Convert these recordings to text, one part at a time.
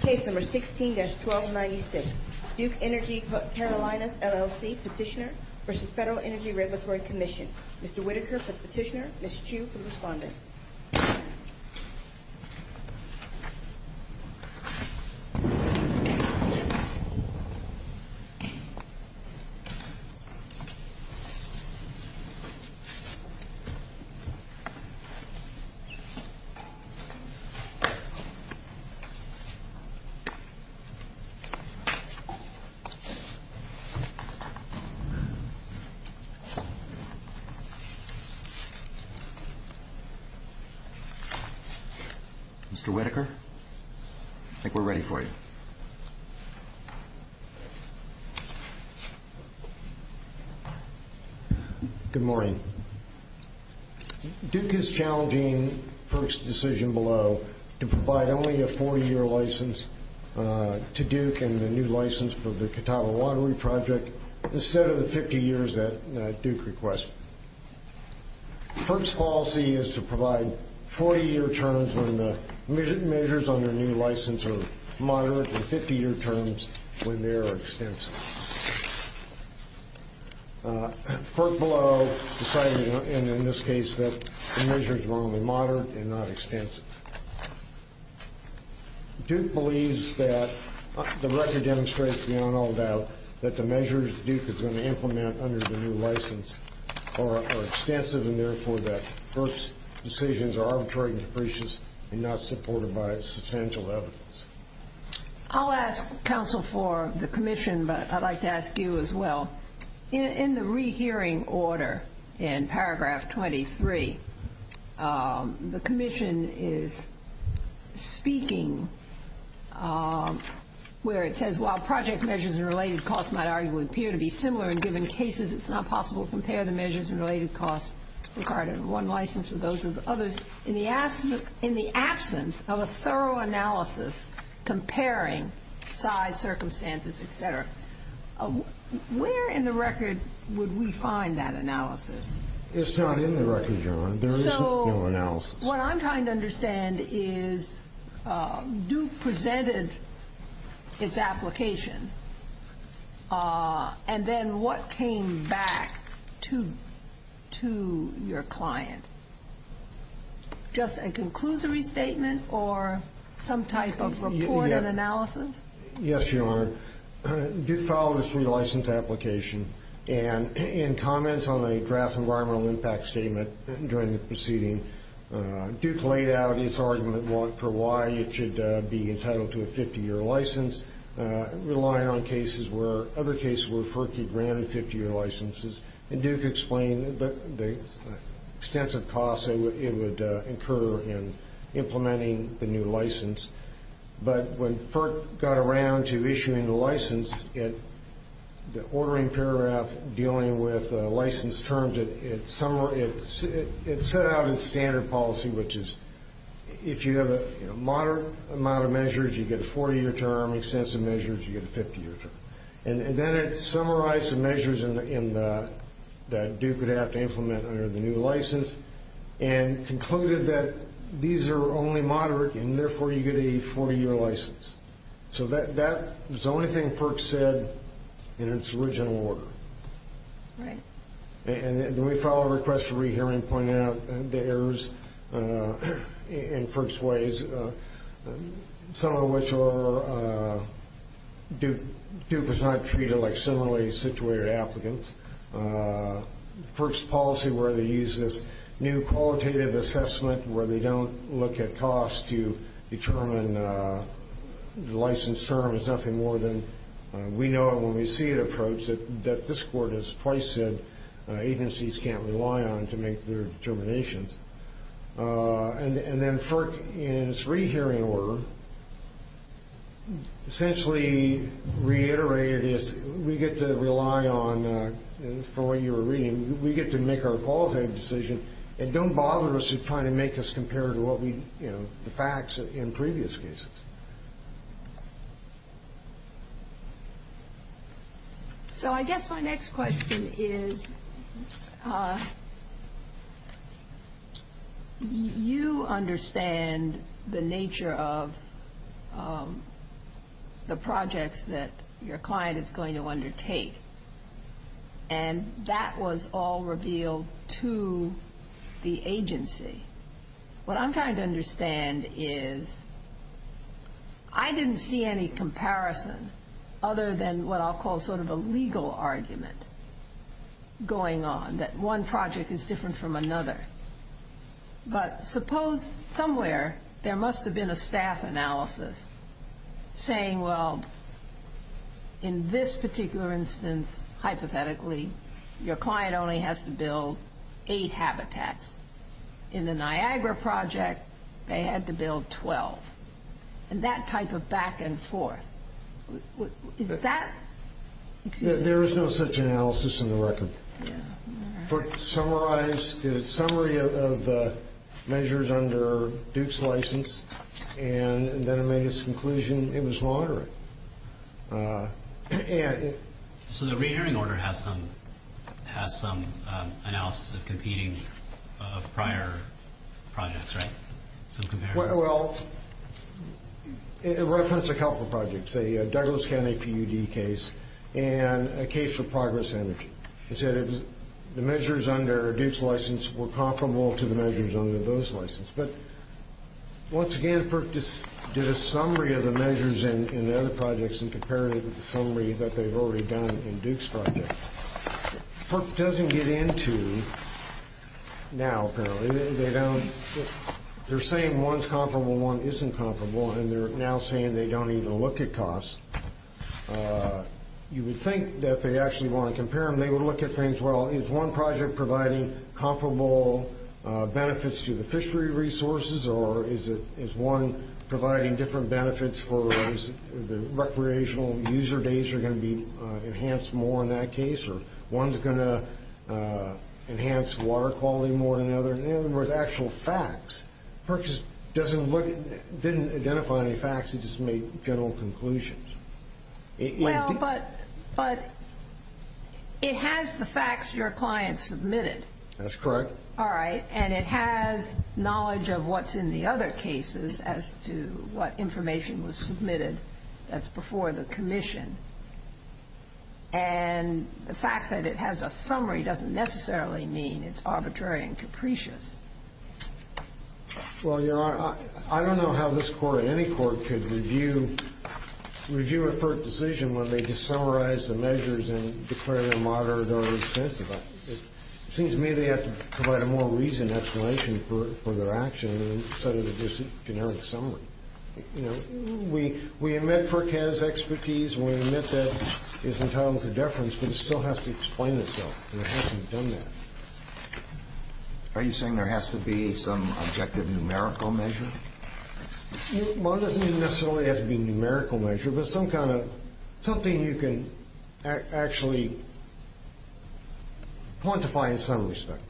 Case No. 16-1296, Duke Energy Carolinas, LLC Petitioner v. FEDERAL ENERGY REGULATORY COMMISSION Mr. Whitaker for the petitioner, Ms. Chu for the respondent. Mr. Whitaker, I think we're ready for you. Good morning. Duke is challenging FERC's decision below to provide only a 40-year license to Duke and the new license for the Catawba Waterway Project instead of the 50 years that Duke requests. FERC's policy is to provide 40-year terms when the measures on their new license are moderate and 50-year terms when they are extensive. FERC below decided in this case that the measures were only moderate and not extensive. Duke believes that the record demonstrates beyond all doubt that the measures Duke is going to implement under the new license are extensive and therefore that FERC's decisions are arbitrary and capricious and not supported by substantial evidence. I'll ask counsel for the commission, but I'd like to ask you as well. In the rehearing order in paragraph 23, the commission is speaking where it says, while project measures and related costs might arguably appear to be similar in given cases, it's not possible to compare the measures and related costs regarding one license with those of others. In the absence of a thorough analysis comparing size, circumstances, et cetera, where in the record would we find that analysis? It's not in the record, Your Honor. There is no analysis. What I'm trying to understand is Duke presented its application, and then what came back to your client? Just a conclusory statement or some type of report and analysis? Yes, Your Honor. Duke filed its relicense application, and in comments on a draft environmental impact statement during the proceeding, Duke laid out its argument for why it should be entitled to a 50-year license, relying on cases where other cases where FERC had granted 50-year licenses, and Duke explained the extensive costs it would incur in implementing the new license. But when FERC got around to issuing the license, the ordering paragraph dealing with license terms, it set out its standard policy, which is if you have a moderate amount of measures, you get a 40-year term. Extensive measures, you get a 50-year term. And then it summarized the measures that Duke would have to implement under the new license and concluded that these are only moderate, and therefore you get a 40-year license. So that was the only thing FERC said in its original order. Right. And we filed a request for re-hearing pointing out the errors in FERC's ways, some of which are Duke was not treated like similarly situated applicants. FERC's policy where they use this new qualitative assessment where they don't look at cost to determine the license term is nothing more than we know it when we see it approached, that this Court has twice said agencies can't rely on to make their determinations. And then FERC, in its re-hearing order, essentially reiterated is we get to rely on, from what you were reading, we get to make our qualitative decision and don't bother us in trying to make us compare to what we, you know, the facts in previous cases. So I guess my next question is, you understand the nature of the projects that your client is going to undertake, and that was all revealed to the agency. What I'm trying to understand is I didn't see any comparison other than what I'll call sort of a legal argument going on, that one project is different from another. But suppose somewhere there must have been a staff analysis saying, well, in this particular instance, hypothetically, your client only has to build eight habitats. In the Niagara project, they had to build 12. And that type of back and forth, is that... There is no such analysis in the record. But summarize the summary of the measures under Duke's license, and then it made its conclusion it was lauderant. So the re-hearing order has some analysis of competing prior projects, right? Well, it referenced a couple of projects, a Douglas County PUD case and a case for Progress Energy. It said the measures under Duke's license were comparable to the measures under those licenses. But once again, FERC did a summary of the measures in the other projects and compared it with the summary that they've already done in Duke's project. FERC doesn't get into, now apparently, they're saying one's comparable, one isn't comparable, and they're now saying they don't even look at costs. You would think that they actually want to compare them. They would look at things, well, is one project providing comparable benefits to the fishery resources, or is one providing different benefits for those, the recreational user days are going to be enhanced more in that case, or one's going to enhance water quality more than the other. In other words, actual facts. FERC just didn't identify any facts, it just made general conclusions. Well, but it has the facts your client submitted. That's correct. All right, and it has knowledge of what's in the other cases as to what information was submitted that's before the commission. And the fact that it has a summary doesn't necessarily mean it's arbitrary and capricious. Well, Your Honor, I don't know how this court or any court could review a FERC decision when they just summarize the measures and declare them moderate or insensitive. It seems to me they have to provide a more reasoned explanation for their action instead of just a generic summary. You know, we admit FERC has expertise, we admit that it's entitled to deference, but it still has to explain itself, and it hasn't done that. Are you saying there has to be some objective numerical measure? Well, it doesn't necessarily have to be a numerical measure, but something you can actually quantify in some respect.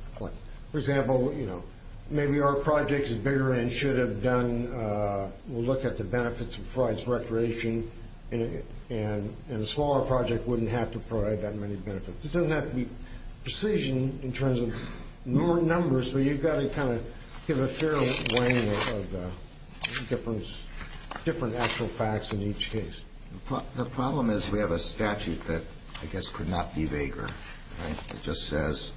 For example, you know, maybe our project is bigger and should have done, we'll look at the benefits of provides recreation, and a smaller project wouldn't have to provide that many benefits. It doesn't have to be precision in terms of numbers, but you've got to kind of give a fair weighing of different actual facts in each case. The problem is we have a statute that I guess could not be vaguer. It just says,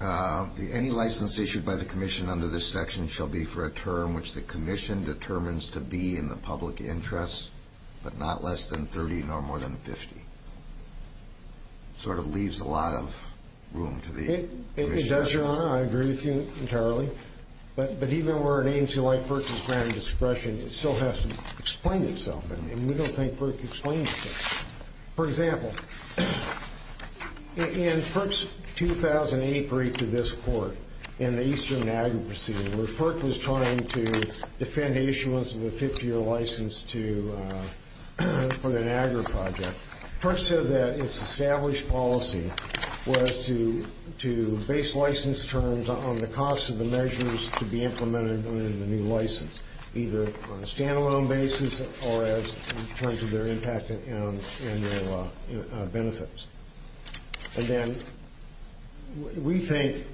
any license issued by the commission under this section shall be for a term which the commission determines to be in the public interest, but not less than 30 nor more than 50. Sort of leaves a lot of room to the commission. It does, Your Honor. I agree with you entirely. But even where it aims to grant FERC discretion, it still has to explain itself, and we don't think FERC explains itself. For example, in FERC's 2008 brief to this Court in the Eastern Niagara proceeding, where FERC was trying to defend issuance of a 50-year license for the Niagara project, FERC said that its established policy was to base license terms on the cost of the measures to be implemented in the new license, either on a stand-alone basis or in terms of their impact and their benefits. And then we think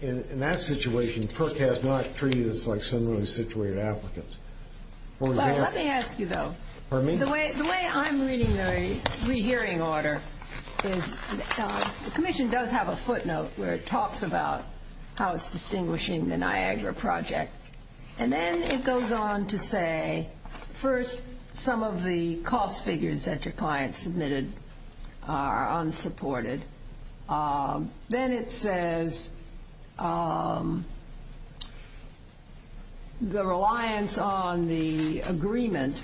in that situation, FERC has not treated us like similarly situated applicants. Let me ask you, though. Pardon me? The way I'm reading the rehearing order is the commission does have a footnote where it talks about how it's distinguishing the Niagara project. And then it goes on to say, first, some of the cost figures that your client submitted are unsupported. Then it says the reliance on the agreement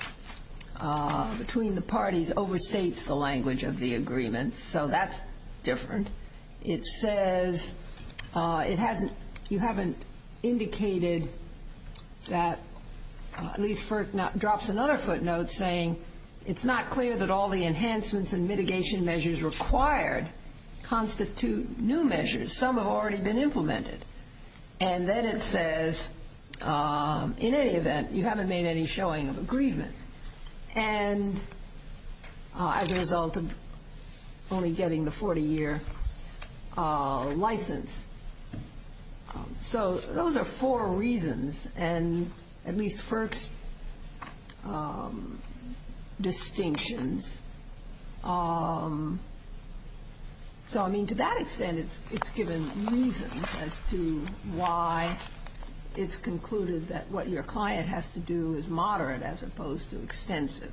between the parties overstates the language of the agreement. So that's different. It says you haven't indicated that, at least FERC drops another footnote saying, it's not clear that all the enhancements and mitigation measures required constitute new measures. Some have already been implemented. And then it says, in any event, you haven't made any showing of agreement. And as a result of only getting the 40-year license. So those are four reasons. And at least FERC's distinctions. So, I mean, to that extent, it's given reasons as to why it's concluded that what your client has to do is moderate as opposed to extensive.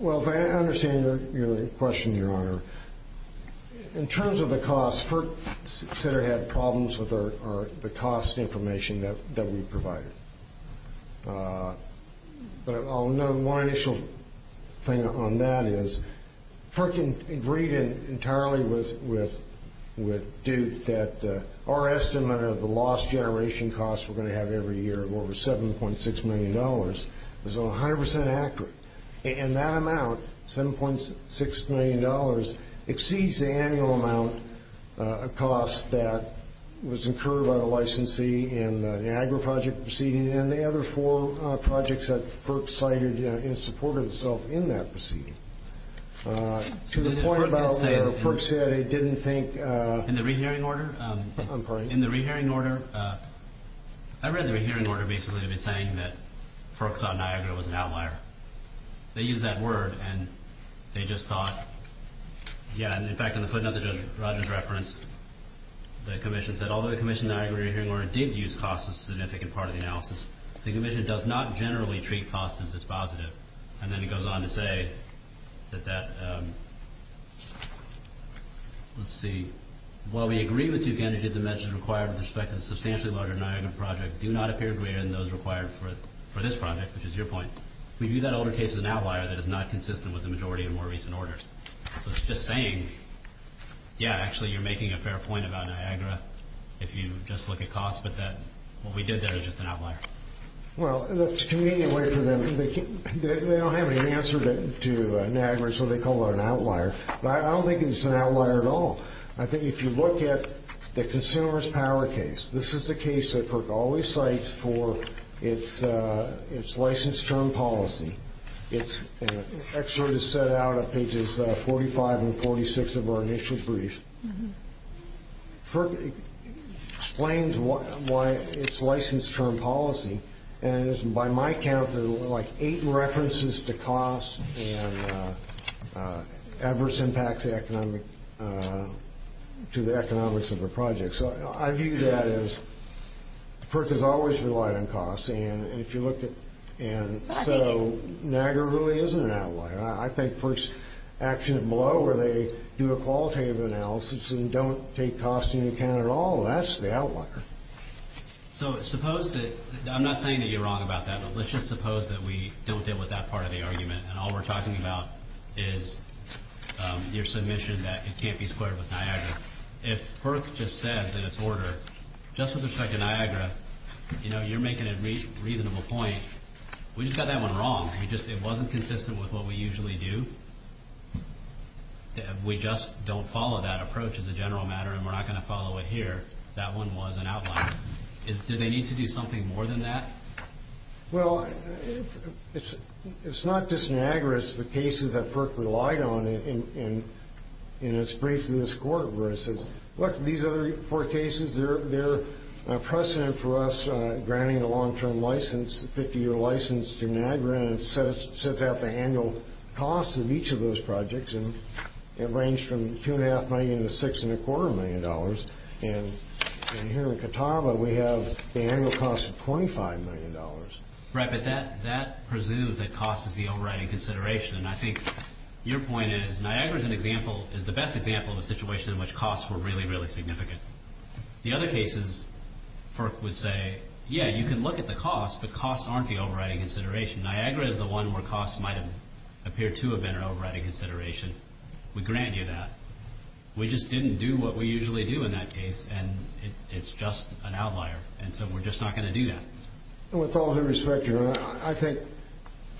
Well, if I understand your question, Your Honor, in terms of the cost, FERC said it had problems with the cost information that we provided. But I'll note one initial thing on that is, FERC agreed entirely with Duke that our estimate of the lost generation costs we're going to have every year of over $7.6 million is 100% accurate. And that amount, $7.6 million, exceeds the annual amount, a cost that was incurred by the licensee in the Niagara Project proceeding and the other four projects that FERC cited in support of itself in that proceeding. To the point about where FERC said it didn't think. In the rehearing order. I'm sorry. In the rehearing order. I read the rehearing order basically to be saying that FERC thought Niagara was an outlier. They used that word and they just thought. Yeah, in fact, in the footnote that Judge Rodgers referenced, the commission said, although the commission in the Niagara Rehearing Order did use cost as a significant part of the analysis, the commission does not generally treat cost as dispositive. And then it goes on to say that that... Let's see. While we agree with Duke Energy that the measures required with respect to the substantially larger Niagara Project do not appear greater than those required for this project, which is your point, we view that older case as an outlier that is not consistent with the majority of more recent orders. So it's just saying, yeah, actually you're making a fair point about Niagara if you just look at cost, but that what we did there is just an outlier. Well, that's a convenient way for them. They don't have any answer to Niagara, so they call it an outlier. But I don't think it's an outlier at all. I think if you look at the consumer's power case, this is the case that FERC always cites for its license term policy. It's actually set out on pages 45 and 46 of our initial brief. FERC explains why its license term policy, and by my count, there are like eight references to cost and adverse impacts to the economics of the project. So I view that as FERC has always relied on cost. And if you look at, and so Niagara really isn't an outlier. I think FERC's action below where they do a qualitative analysis and don't take cost into account at all, that's the outlier. So suppose that, I'm not saying that you're wrong about that, but let's just suppose that we don't deal with that part of the argument and all we're talking about is your submission that it can't be squared with Niagara. If FERC just says in its order, just with respect to Niagara, you know, you're making a reasonable point. We just got that one wrong. It wasn't consistent with what we usually do. We just don't follow that approach as a general matter and we're not going to follow it here. That one was an outlier. Do they need to do something more than that? Well, it's not just Niagara. It's the cases that FERC relied on in its brief to this court where it says, look, these other four cases, they're a precedent for us granting a long-term license, a 50-year license to Niagara, and it sets out the annual cost of each of those projects. And it ranged from $2.5 million to $6.25 million. And here in Catawba, we have the annual cost of $25 million. Right, but that presumes that cost is the overriding consideration, and I think your point is Niagara is the best example of a situation in which costs were really, really significant. The other cases, FERC would say, yeah, you can look at the cost, but costs aren't the overriding consideration. Niagara is the one where costs might appear to have been an overriding consideration. We grant you that. We just didn't do what we usually do in that case, and it's just an outlier, and so we're just not going to do that. With all due respect, Your Honor, I think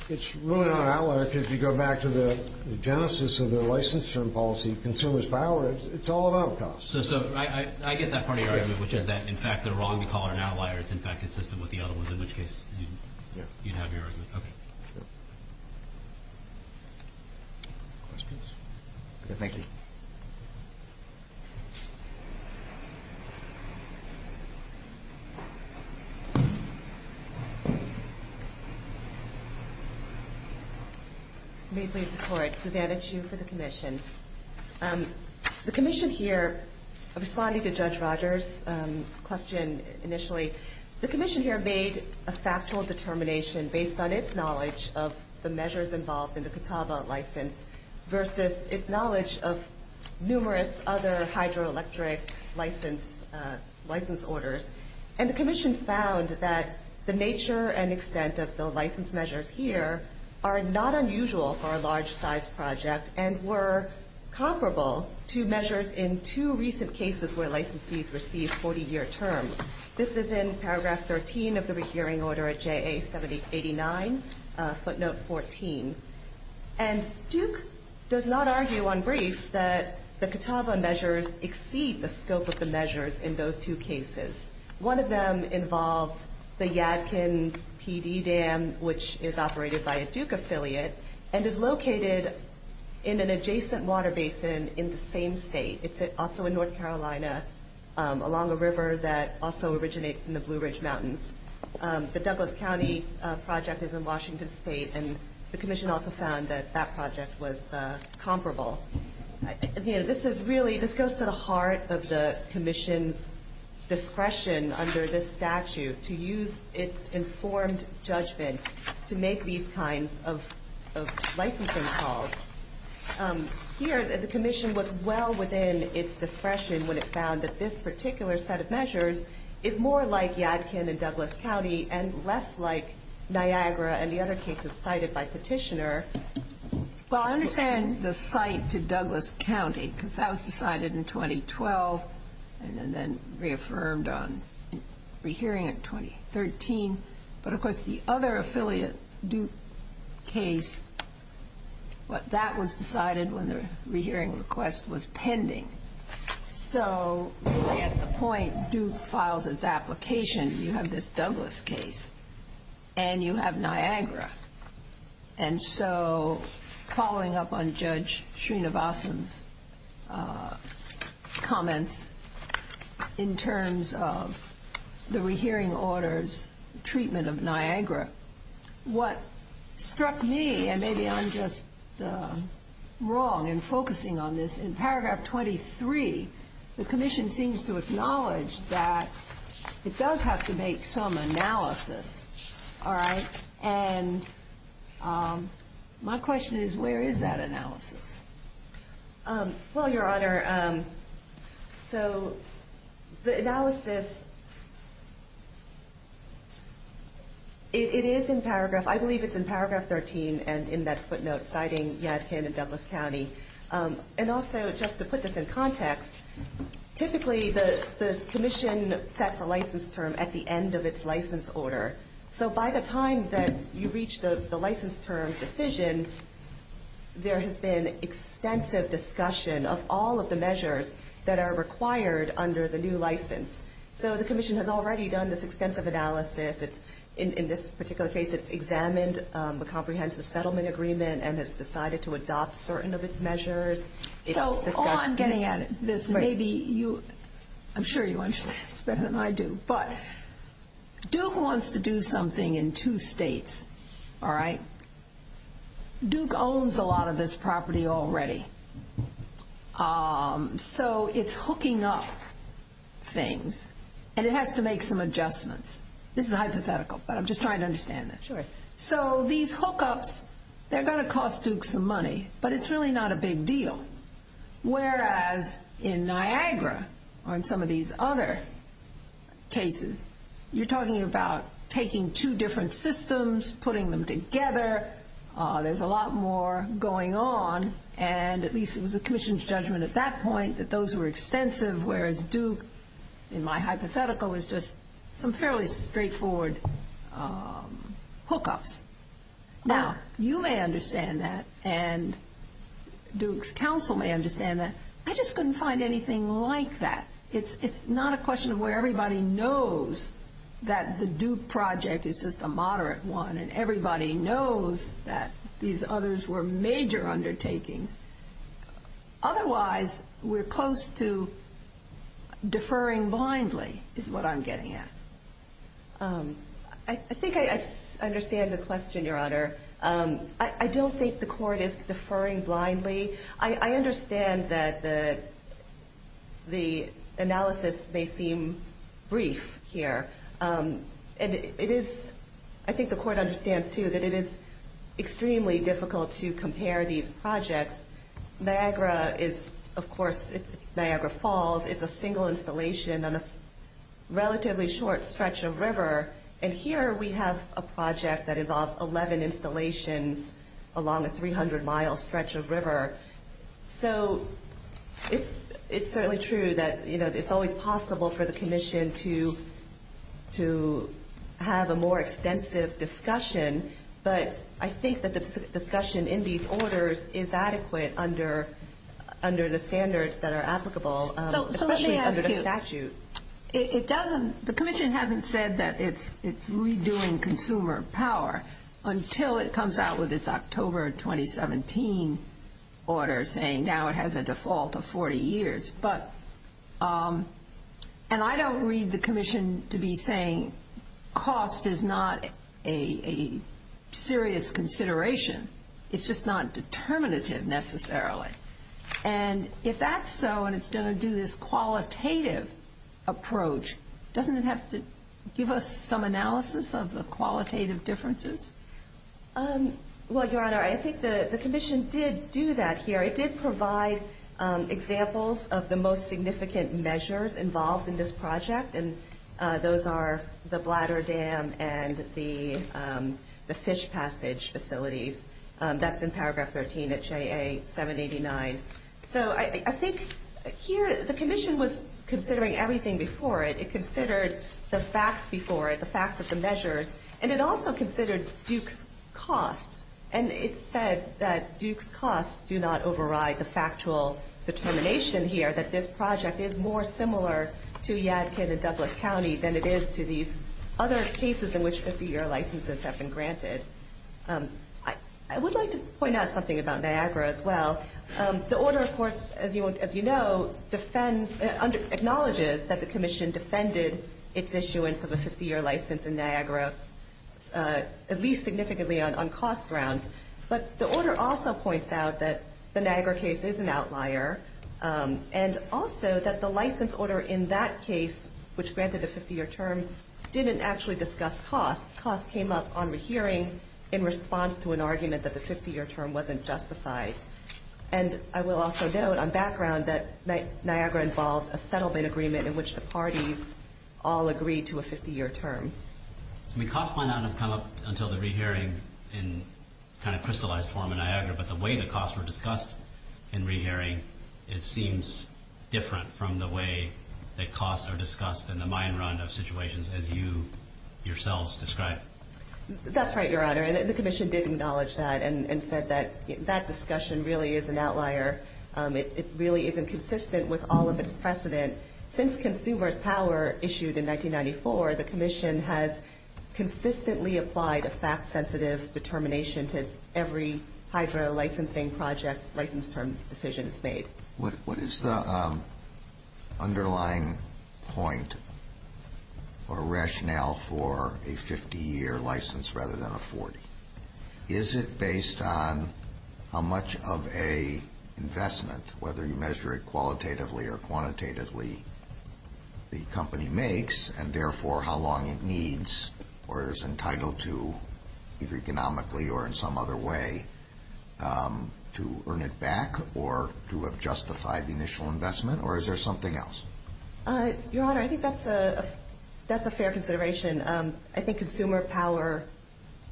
it's really not an outlier because if you go back to the genesis of the license term policy, consumers' power, it's all about costs. So I get that part of your argument, which is that, in fact, the wrong to call it an outlier is, in fact, consistent with the other ones, in which case you'd have your argument. Okay. Questions? Thank you. May it please the Court. Susanna Chu for the Commission. The Commission here, responding to Judge Rogers' question initially, the Commission here made a factual determination based on its knowledge of the measures involved in the Catawba license versus its knowledge of numerous other hydroelectric license orders, and the Commission found that the nature and extent of the license measures here are not unusual for a large-size project and were comparable to measures in two recent cases where licensees received 40-year terms. This is in paragraph 13 of the rehearing order at JA-789, footnote 14. And Duke does not argue on brief that the Catawba measures exceed the scope of the measures in those two cases. One of them involves the Yadkin PD dam, which is operated by a Duke affiliate, and is located in an adjacent water basin in the same state. It's also in North Carolina along a river that also originates in the Blue Ridge Mountains. The Douglas County project is in Washington State, and the Commission also found that that project was comparable. This goes to the heart of the Commission's discretion under this statute to use its informed judgment to make these kinds of licensing calls. Here, the Commission was well within its discretion when it found that this particular set of measures is more like Yadkin and Douglas County and less like Niagara and the other cases cited by Petitioner. Well, I understand the site to Douglas County because that was decided in 2012 and then reaffirmed on rehearing in 2013. But, of course, the other affiliate Duke case, that was decided when the rehearing request was pending. So at the point Duke files its application, you have this Douglas case and you have Niagara. And so following up on Judge Srinivasan's comments in terms of the rehearing orders treatment of Niagara, what struck me, and maybe I'm just wrong in focusing on this, in paragraph 23, the Commission seems to acknowledge that it does have to make some analysis, all right? Well, Your Honor, so the analysis, it is in paragraph, I believe it's in paragraph 13 and in that footnote citing Yadkin and Douglas County. And also, just to put this in context, typically the Commission sets a license term at the end of its license order. So by the time that you reach the license term decision, there has been extensive discussion of all of the measures that are required under the new license. So the Commission has already done this extensive analysis. In this particular case, it's examined the comprehensive settlement agreement and has decided to adopt certain of its measures. So on getting at this, maybe you, I'm sure you understand this better than I do, but Duke wants to do something in two states, all right? Duke owns a lot of this property already. So it's hooking up things and it has to make some adjustments. This is hypothetical, but I'm just trying to understand this. Sure. So these hookups, they're going to cost Duke some money, but it's really not a big deal. Whereas in Niagara or in some of these other cases, you're talking about taking two different systems, putting them together. There's a lot more going on, and at least it was the Commission's judgment at that point that those were extensive, whereas Duke, in my hypothetical, was just some fairly straightforward hookups. Now, you may understand that and Duke's counsel may understand that. I just couldn't find anything like that. It's not a question of where everybody knows that the Duke project is just a moderate one and everybody knows that these others were major undertakings. Otherwise, we're close to deferring blindly is what I'm getting at. I think I understand the question, Your Honor. I don't think the court is deferring blindly. I understand that the analysis may seem brief here. I think the court understands, too, that it is extremely difficult to compare these projects. Niagara is, of course, Niagara Falls. It's a single installation on a relatively short stretch of river, and here we have a project that involves 11 installations along a 300-mile stretch of river. So it's certainly true that it's always possible for the Commission to have a more extensive discussion, but I think that the discussion in these orders is adequate under the standards that are applicable, especially under the statute. The Commission hasn't said that it's redoing Consumer Power until it comes out with its October 2017 order saying now it has a default of 40 years. And I don't read the Commission to be saying cost is not a serious consideration. It's just not determinative necessarily. And if that's so and it's going to do this qualitative approach, doesn't it have to give us some analysis of the qualitative differences? Well, Your Honor, I think the Commission did do that here. It did provide examples of the most significant measures involved in this project, and those are the bladder dam and the fish passage facilities. That's in paragraph 13 of JA-789. So I think here the Commission was considering everything before it. It considered the facts before it, the facts of the measures, and it also considered Duke's costs, and it said that Duke's costs do not override the factual determination here that this project is more similar to Yadkin and Douglas County than it is to these other cases in which 50-year licenses have been granted. I would like to point out something about Niagara as well. The order, of course, as you know, acknowledges that the Commission defended its issuance of a 50-year license in Niagara, at least significantly on cost grounds. But the order also points out that the Niagara case is an outlier and also that the license order in that case, which granted a 50-year term, didn't actually discuss costs. Costs came up on rehearing in response to an argument that the 50-year term wasn't justified. And I will also note on background that Niagara involved a settlement agreement in which the parties all agreed to a 50-year term. I mean, costs might not have come up until the rehearing in kind of crystallized form in Niagara, but the way the costs were discussed in rehearing, it seems different from the way that costs are discussed in the mine run of situations, as you yourselves described. That's right, Your Honor, and the Commission did acknowledge that and said that that discussion really is an outlier. It really isn't consistent with all of its precedent. Since Consumer's Power issued in 1994, the Commission has consistently applied a fact-sensitive determination to every hydro licensing project license term decision that's made. What is the underlying point or rationale for a 50-year license rather than a 40? Is it based on how much of an investment, whether you measure it qualitatively or quantitatively, the company makes and therefore how long it needs or is entitled to, either economically or in some other way, to earn it back or to have justified the initial investment, or is there something else? Your Honor, I think that's a fair consideration. I think Consumer Power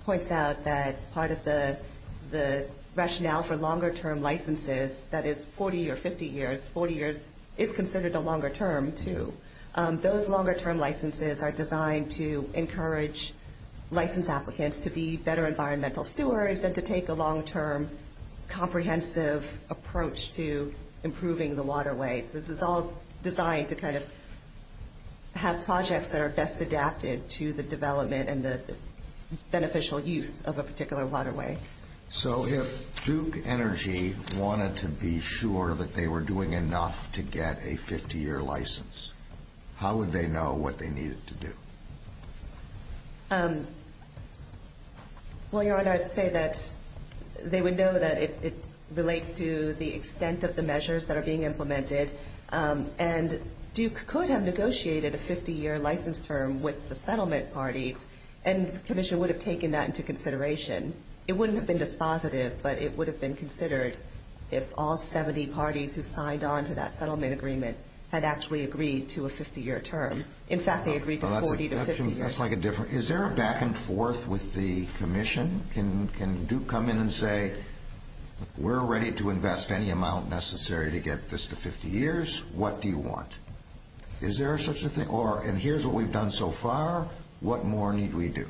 points out that part of the rationale for longer-term licenses, that is 40 or 50 years, 40 years is considered a longer term, too. Those longer-term licenses are designed to encourage license applicants to be better environmental stewards and to take a long-term comprehensive approach to improving the waterways. This is all designed to kind of have projects that are best adapted to the development and the beneficial use of a particular waterway. So if Duke Energy wanted to be sure that they were doing enough to get a 50-year license, how would they know what they needed to do? Well, Your Honor, I'd say that they would know that it relates to the extent of the measures that are being implemented, and Duke could have negotiated a 50-year license term with the settlement parties, and the Commission would have taken that into consideration. It wouldn't have been dispositive, but it would have been considered if all 70 parties who signed on to that settlement agreement had actually agreed to a 50-year term. In fact, they agreed to 40 to 50 years. That's like a different – is there a back and forth with the Commission? Can Duke come in and say, we're ready to invest any amount necessary to get this to 50 years, what do you want? Is there such a thing? And here's what we've done so far, what more need we do?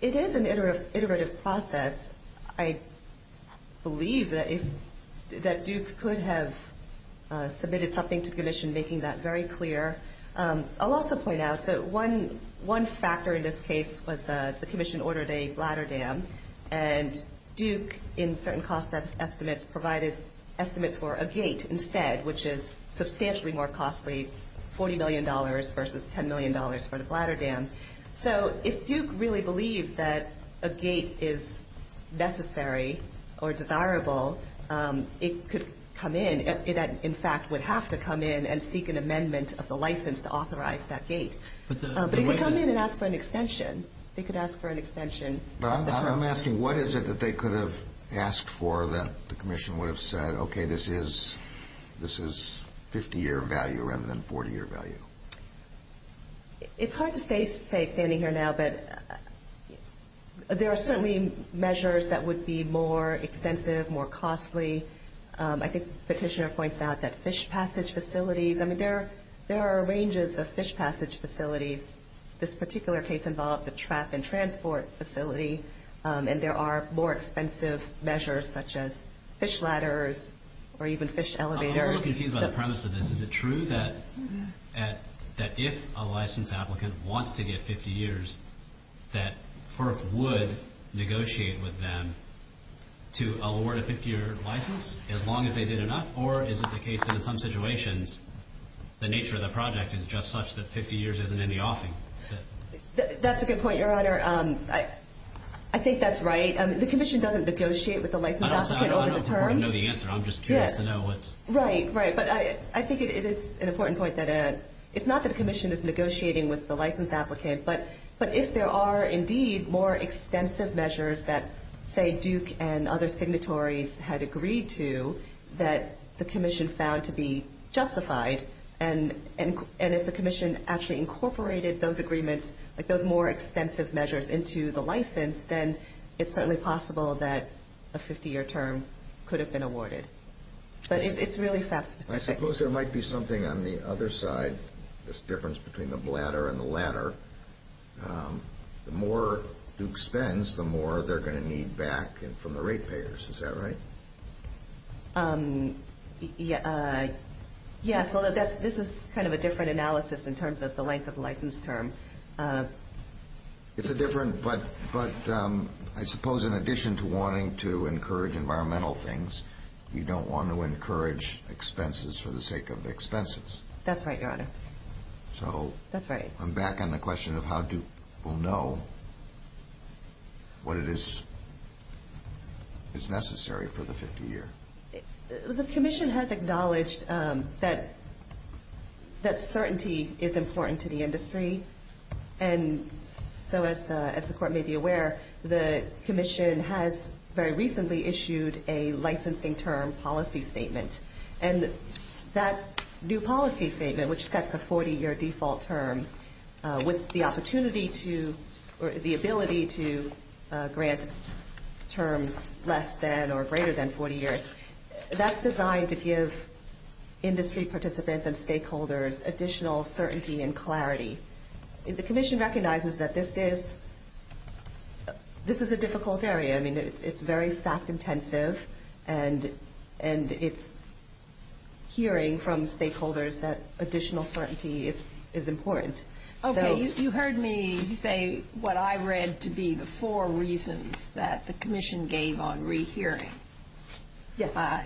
It is an iterative process. I believe that Duke could have submitted something to the Commission making that very clear. I'll also point out that one factor in this case was the Commission ordered a bladder dam, and Duke, in certain cost estimates, provided estimates for a gate instead, which is substantially more costly, $40 million versus $10 million for the bladder dam. So if Duke really believes that a gate is necessary or desirable, it could come in – in fact, would have to come in and seek an amendment of the license to authorize that gate. But it could come in and ask for an extension. They could ask for an extension. I'm asking, what is it that they could have asked for that the Commission would have said, okay, this is 50-year value rather than 40-year value? It's hard to say standing here now, but there are certainly measures that would be more extensive, more costly. I think Petitioner points out that fish passage facilities – I mean, there are ranges of fish passage facilities. This particular case involved the trap and transport facility, and there are more expensive measures such as fish ladders or even fish elevators. I'm a little confused by the premise of this. Is it true that if a licensed applicant wants to get 50 years, that FERC would negotiate with them to award a 50-year license as long as they did enough, or is it the case that in some situations the nature of the project is just such that 50 years isn't any offing? That's a good point, Your Honor. I think that's right. The Commission doesn't negotiate with the licensed applicant over the term. I don't know the answer. I'm just curious to know what's – Right, right. But I think it is an important point that it's not that the Commission is negotiating with the licensed applicant, but if there are indeed more extensive measures that, say, Duke and other signatories had agreed to, that the Commission found to be justified, and if the Commission actually incorporated those agreements, like those more extensive measures into the license, then it's certainly possible that a 50-year term could have been awarded. But it's really FAP-specific. I suppose there might be something on the other side, this difference between the bladder and the ladder. The more Duke spends, the more they're going to need back from the ratepayers. Is that right? Yes. This is kind of a different analysis in terms of the length of the license term. It's a different, but I suppose in addition to wanting to encourage environmental things, you don't want to encourage expenses for the sake of expenses. That's right, Your Honor. So I'm back on the question of how Duke will know what is necessary for the 50-year. The Commission has acknowledged that certainty is important to the industry, and so as the Court may be aware, the Commission has very recently issued a licensing term policy statement. And that new policy statement, which sets a 40-year default term, with the ability to grant terms less than or greater than 40 years, that's designed to give industry participants and stakeholders additional certainty and clarity. The Commission recognizes that this is a difficult area. I mean, it's very fact-intensive, and it's hearing from stakeholders that additional certainty is important. Okay. You heard me say what I read to be the four reasons that the Commission gave on rehearing.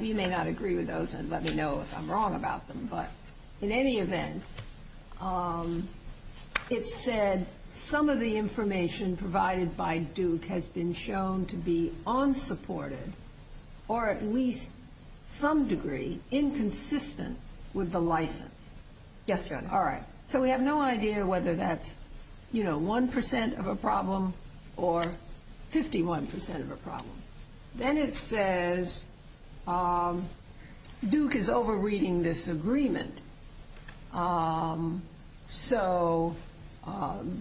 You may not agree with those and let me know if I'm wrong about them. But in any event, it said some of the information provided by Duke has been shown to be unsupported or at least some degree inconsistent with the license. Yes, Your Honor. All right. So we have no idea whether that's, you know, 1% of a problem or 51% of a problem. Then it says Duke is over-reading this agreement. So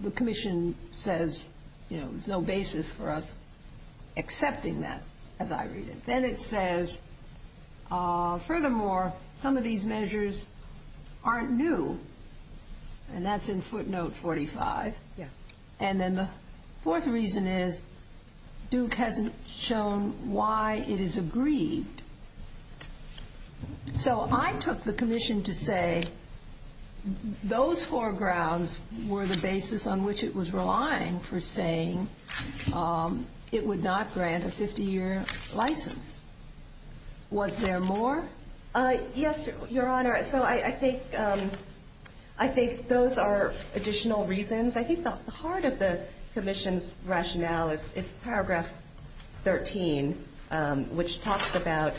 the Commission says, you know, there's no basis for us accepting that, as I read it. Then it says, furthermore, some of these measures aren't new. And that's in footnote 45. Yes. And then the fourth reason is Duke hasn't shown why it is agreed. So I took the Commission to say those four grounds were the basis on which it was relying for saying it would not grant a 50-year license. Was there more? Yes, Your Honor. So I think those are additional reasons. I think the heart of the Commission's rationale is paragraph 13, which talks about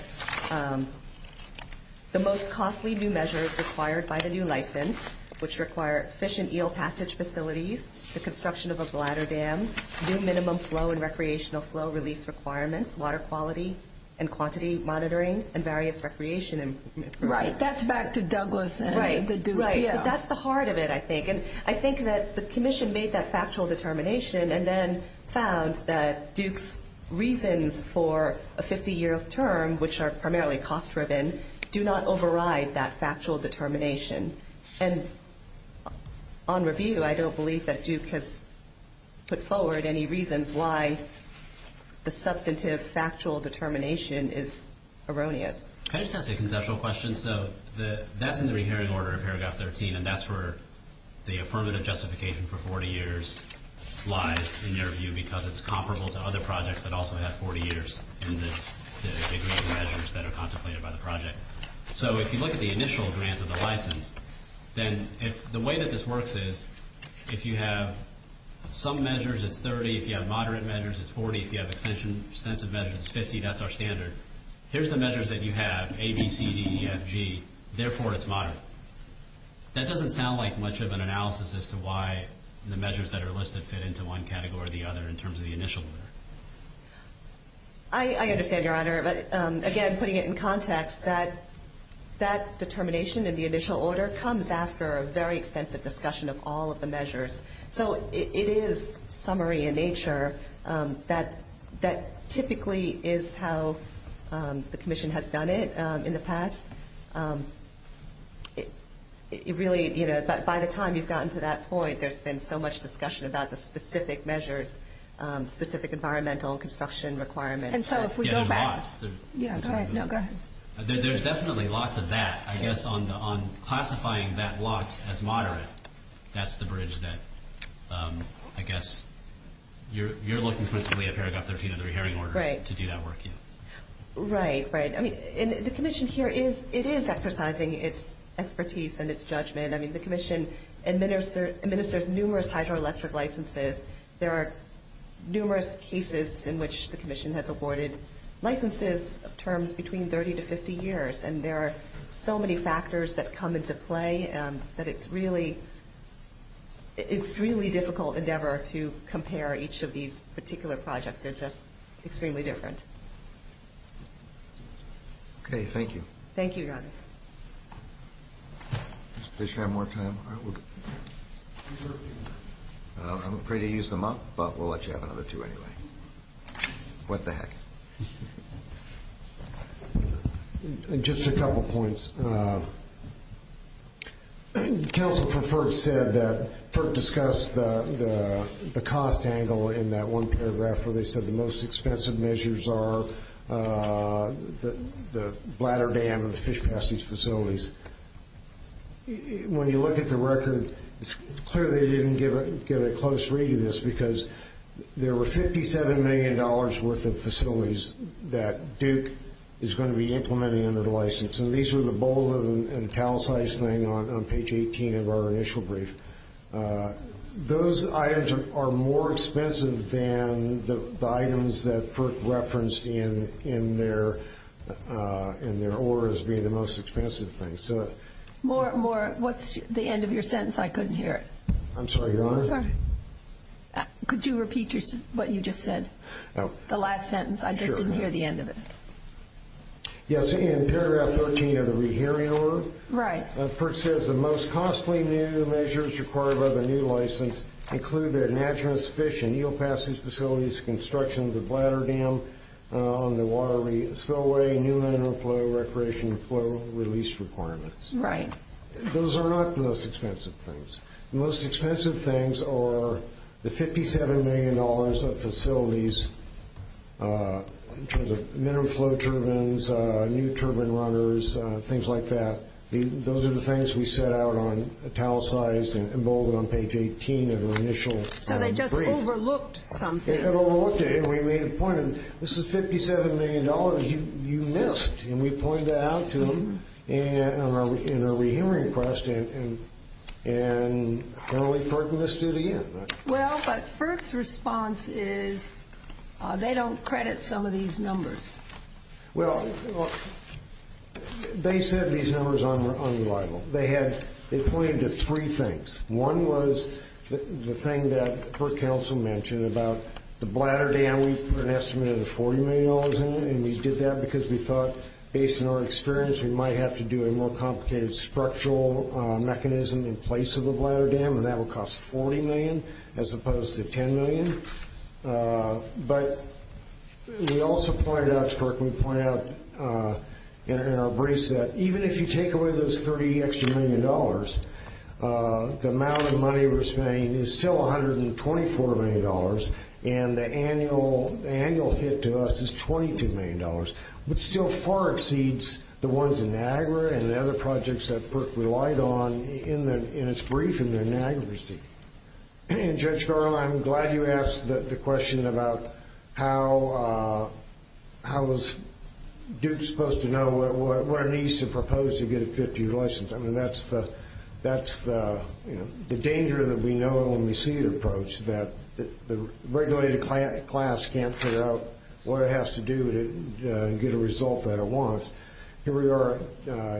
the most costly new measures required by the new license, which require fish and eel passage facilities, the construction of a bladder dam, new minimum flow and recreational flow release requirements, water quality and quantity monitoring, and various recreation improvements. Right. That's back to Douglas and the Duke. Right. So that's the heart of it, I think. And I think that the Commission made that factual determination and then found that Duke's reasons for a 50-year term, which are primarily cost-driven, do not override that factual determination. And on review, I don't believe that Duke has put forward any reasons why the substantive factual determination is erroneous. Can I just ask a conceptual question? So that's in the rehearing order of paragraph 13, and that's where the affirmative justification for 40 years lies, in your view, because it's comparable to other projects that also have 40 years in the degree of measures that are contemplated by the project. So if you look at the initial grant of the license, then the way that this works is if you have some measures, it's 30. If you have moderate measures, it's 40. If you have extensive measures, it's 50. That's our standard. Here's the measures that you have, A, B, C, D, E, F, G. Therefore, it's moderate. That doesn't sound like much of an analysis as to why the measures that are listed fit into one category or the other in terms of the initial order. I understand, Your Honor. But, again, putting it in context, that determination in the initial order comes after a very extensive discussion of all of the measures. So it is summary in nature. That typically is how the commission has done it in the past. It really, you know, by the time you've gotten to that point, there's been so much discussion about the specific measures, specific environmental construction requirements. And so if we go back. Yeah, and lots. Yeah, go ahead. No, go ahead. There's definitely lots of that, I guess, on classifying that lots as moderate. That's the bridge that, I guess, you're looking principally at Paragraph 13 of the rehearing order to do that work. Right, right. I mean, the commission here, it is exercising its expertise and its judgment. I mean, the commission administers numerous hydroelectric licenses. There are numerous cases in which the commission has awarded licenses of terms between 30 to 50 years. And there are so many factors that come into play that it's really an extremely difficult endeavor to compare each of these particular projects. They're just extremely different. Okay, thank you. Thank you, Your Honor. Does the commission have more time? I'm afraid to use them up, but we'll let you have another two anyway. What the heck? Just a couple points. Counsel for FERC said that FERC discussed the cost angle in that one paragraph where they said the most expensive measures are the bladder dam and the fish passage facilities. When you look at the record, it's clear they didn't get a close read of this because there were $57 million worth of facilities that Duke is going to be implementing under the license. And these were the bowl and towel size thing on page 18 of our initial brief. Those items are more expensive than the items that FERC referenced in their order as being the most expensive thing. What's the end of your sentence? I couldn't hear it. I'm sorry, Your Honor? Could you repeat what you just said, the last sentence? I just didn't hear the end of it. Yes, in paragraph 13 of the rehearing order. Right. FERC says the most costly new measures required by the new license include the enagement of fish and eel passage facilities, construction of the bladder dam on the water spillway, new mineral flow, recreation flow release requirements. Right. Those are not the most expensive things. The most expensive things are the $57 million of facilities in terms of mineral flow turbines, new turbine runners, things like that. Those are the things we set out on towel size and emboldened on page 18 of our initial brief. So they just overlooked some things. They overlooked it, and we made a point. This is $57 million you missed, and we pointed that out to them in our rehearing request, and apparently FERC missed it again. Well, but FERC's response is they don't credit some of these numbers. Well, they said these numbers are unreliable. They pointed to three things. One was the thing that FERC counsel mentioned about the bladder dam. We put an estimate of $40 million in it, and we did that because we thought, based on our experience, we might have to do a more complicated structural mechanism in place of the bladder dam, and that would cost $40 million as opposed to $10 million. But we also pointed out to FERC, we pointed out in our briefs, that even if you take away those $30 extra million, the amount of money we're spending is still $124 million, and the annual hit to us is $22 million, but still far exceeds the ones in Niagara and the other projects that FERC relied on in its brief in the Niagara receipt. Judge Garland, I'm glad you asked the question about how is Duke supposed to know what it needs to propose to get a 50-year license. I mean, that's the danger that we know when we see it approached, that the regulated class can't figure out what it has to do to get a result that it wants. Here we are,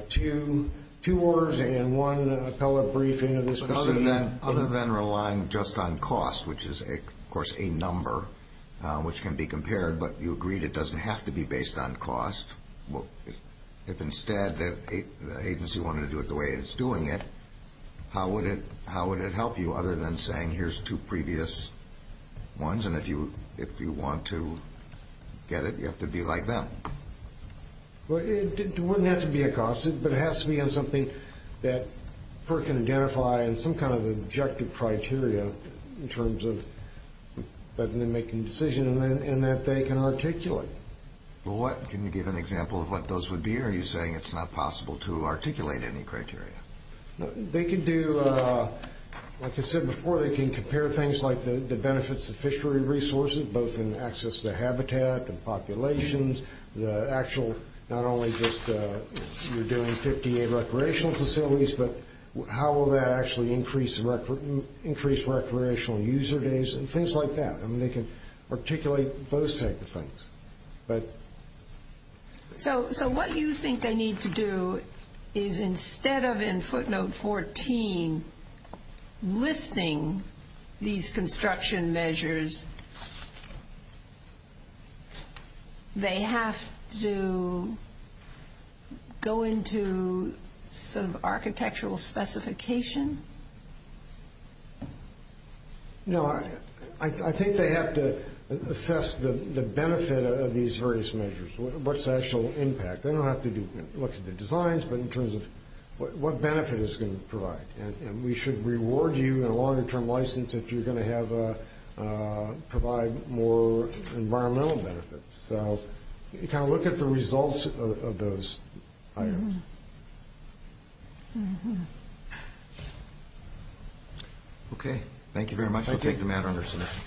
two orders and one appellate briefing of this proceeding. Other than relying just on cost, which is, of course, a number which can be compared, but you agreed it doesn't have to be based on cost. If instead the agency wanted to do it the way it's doing it, how would it help you, rather than saying here's two previous ones, and if you want to get it, you have to be like them? Well, it wouldn't have to be a cost, but it has to be on something that FERC can identify and some kind of objective criteria in terms of whether they're making a decision and that they can articulate. Well, what? Can you give an example of what those would be, or are you saying it's not possible to articulate any criteria? They can do, like I said before, they can compare things like the benefits of fishery resources, both in access to habitat and populations, the actual not only just you're doing 58 recreational facilities, but how will that actually increase recreational user days and things like that. I mean, they can articulate those type of things. So what you think they need to do is instead of in footnote 14 listing these construction measures, they have to go into some architectural specification? No, I think they have to assess the benefit of these various measures. What's the actual impact? They don't have to look at the designs, but in terms of what benefit it's going to provide. And we should reward you in a longer-term license if you're going to provide more environmental benefits. So you kind of look at the results of those items. Okay. Thank you very much. We'll take the matter under submission.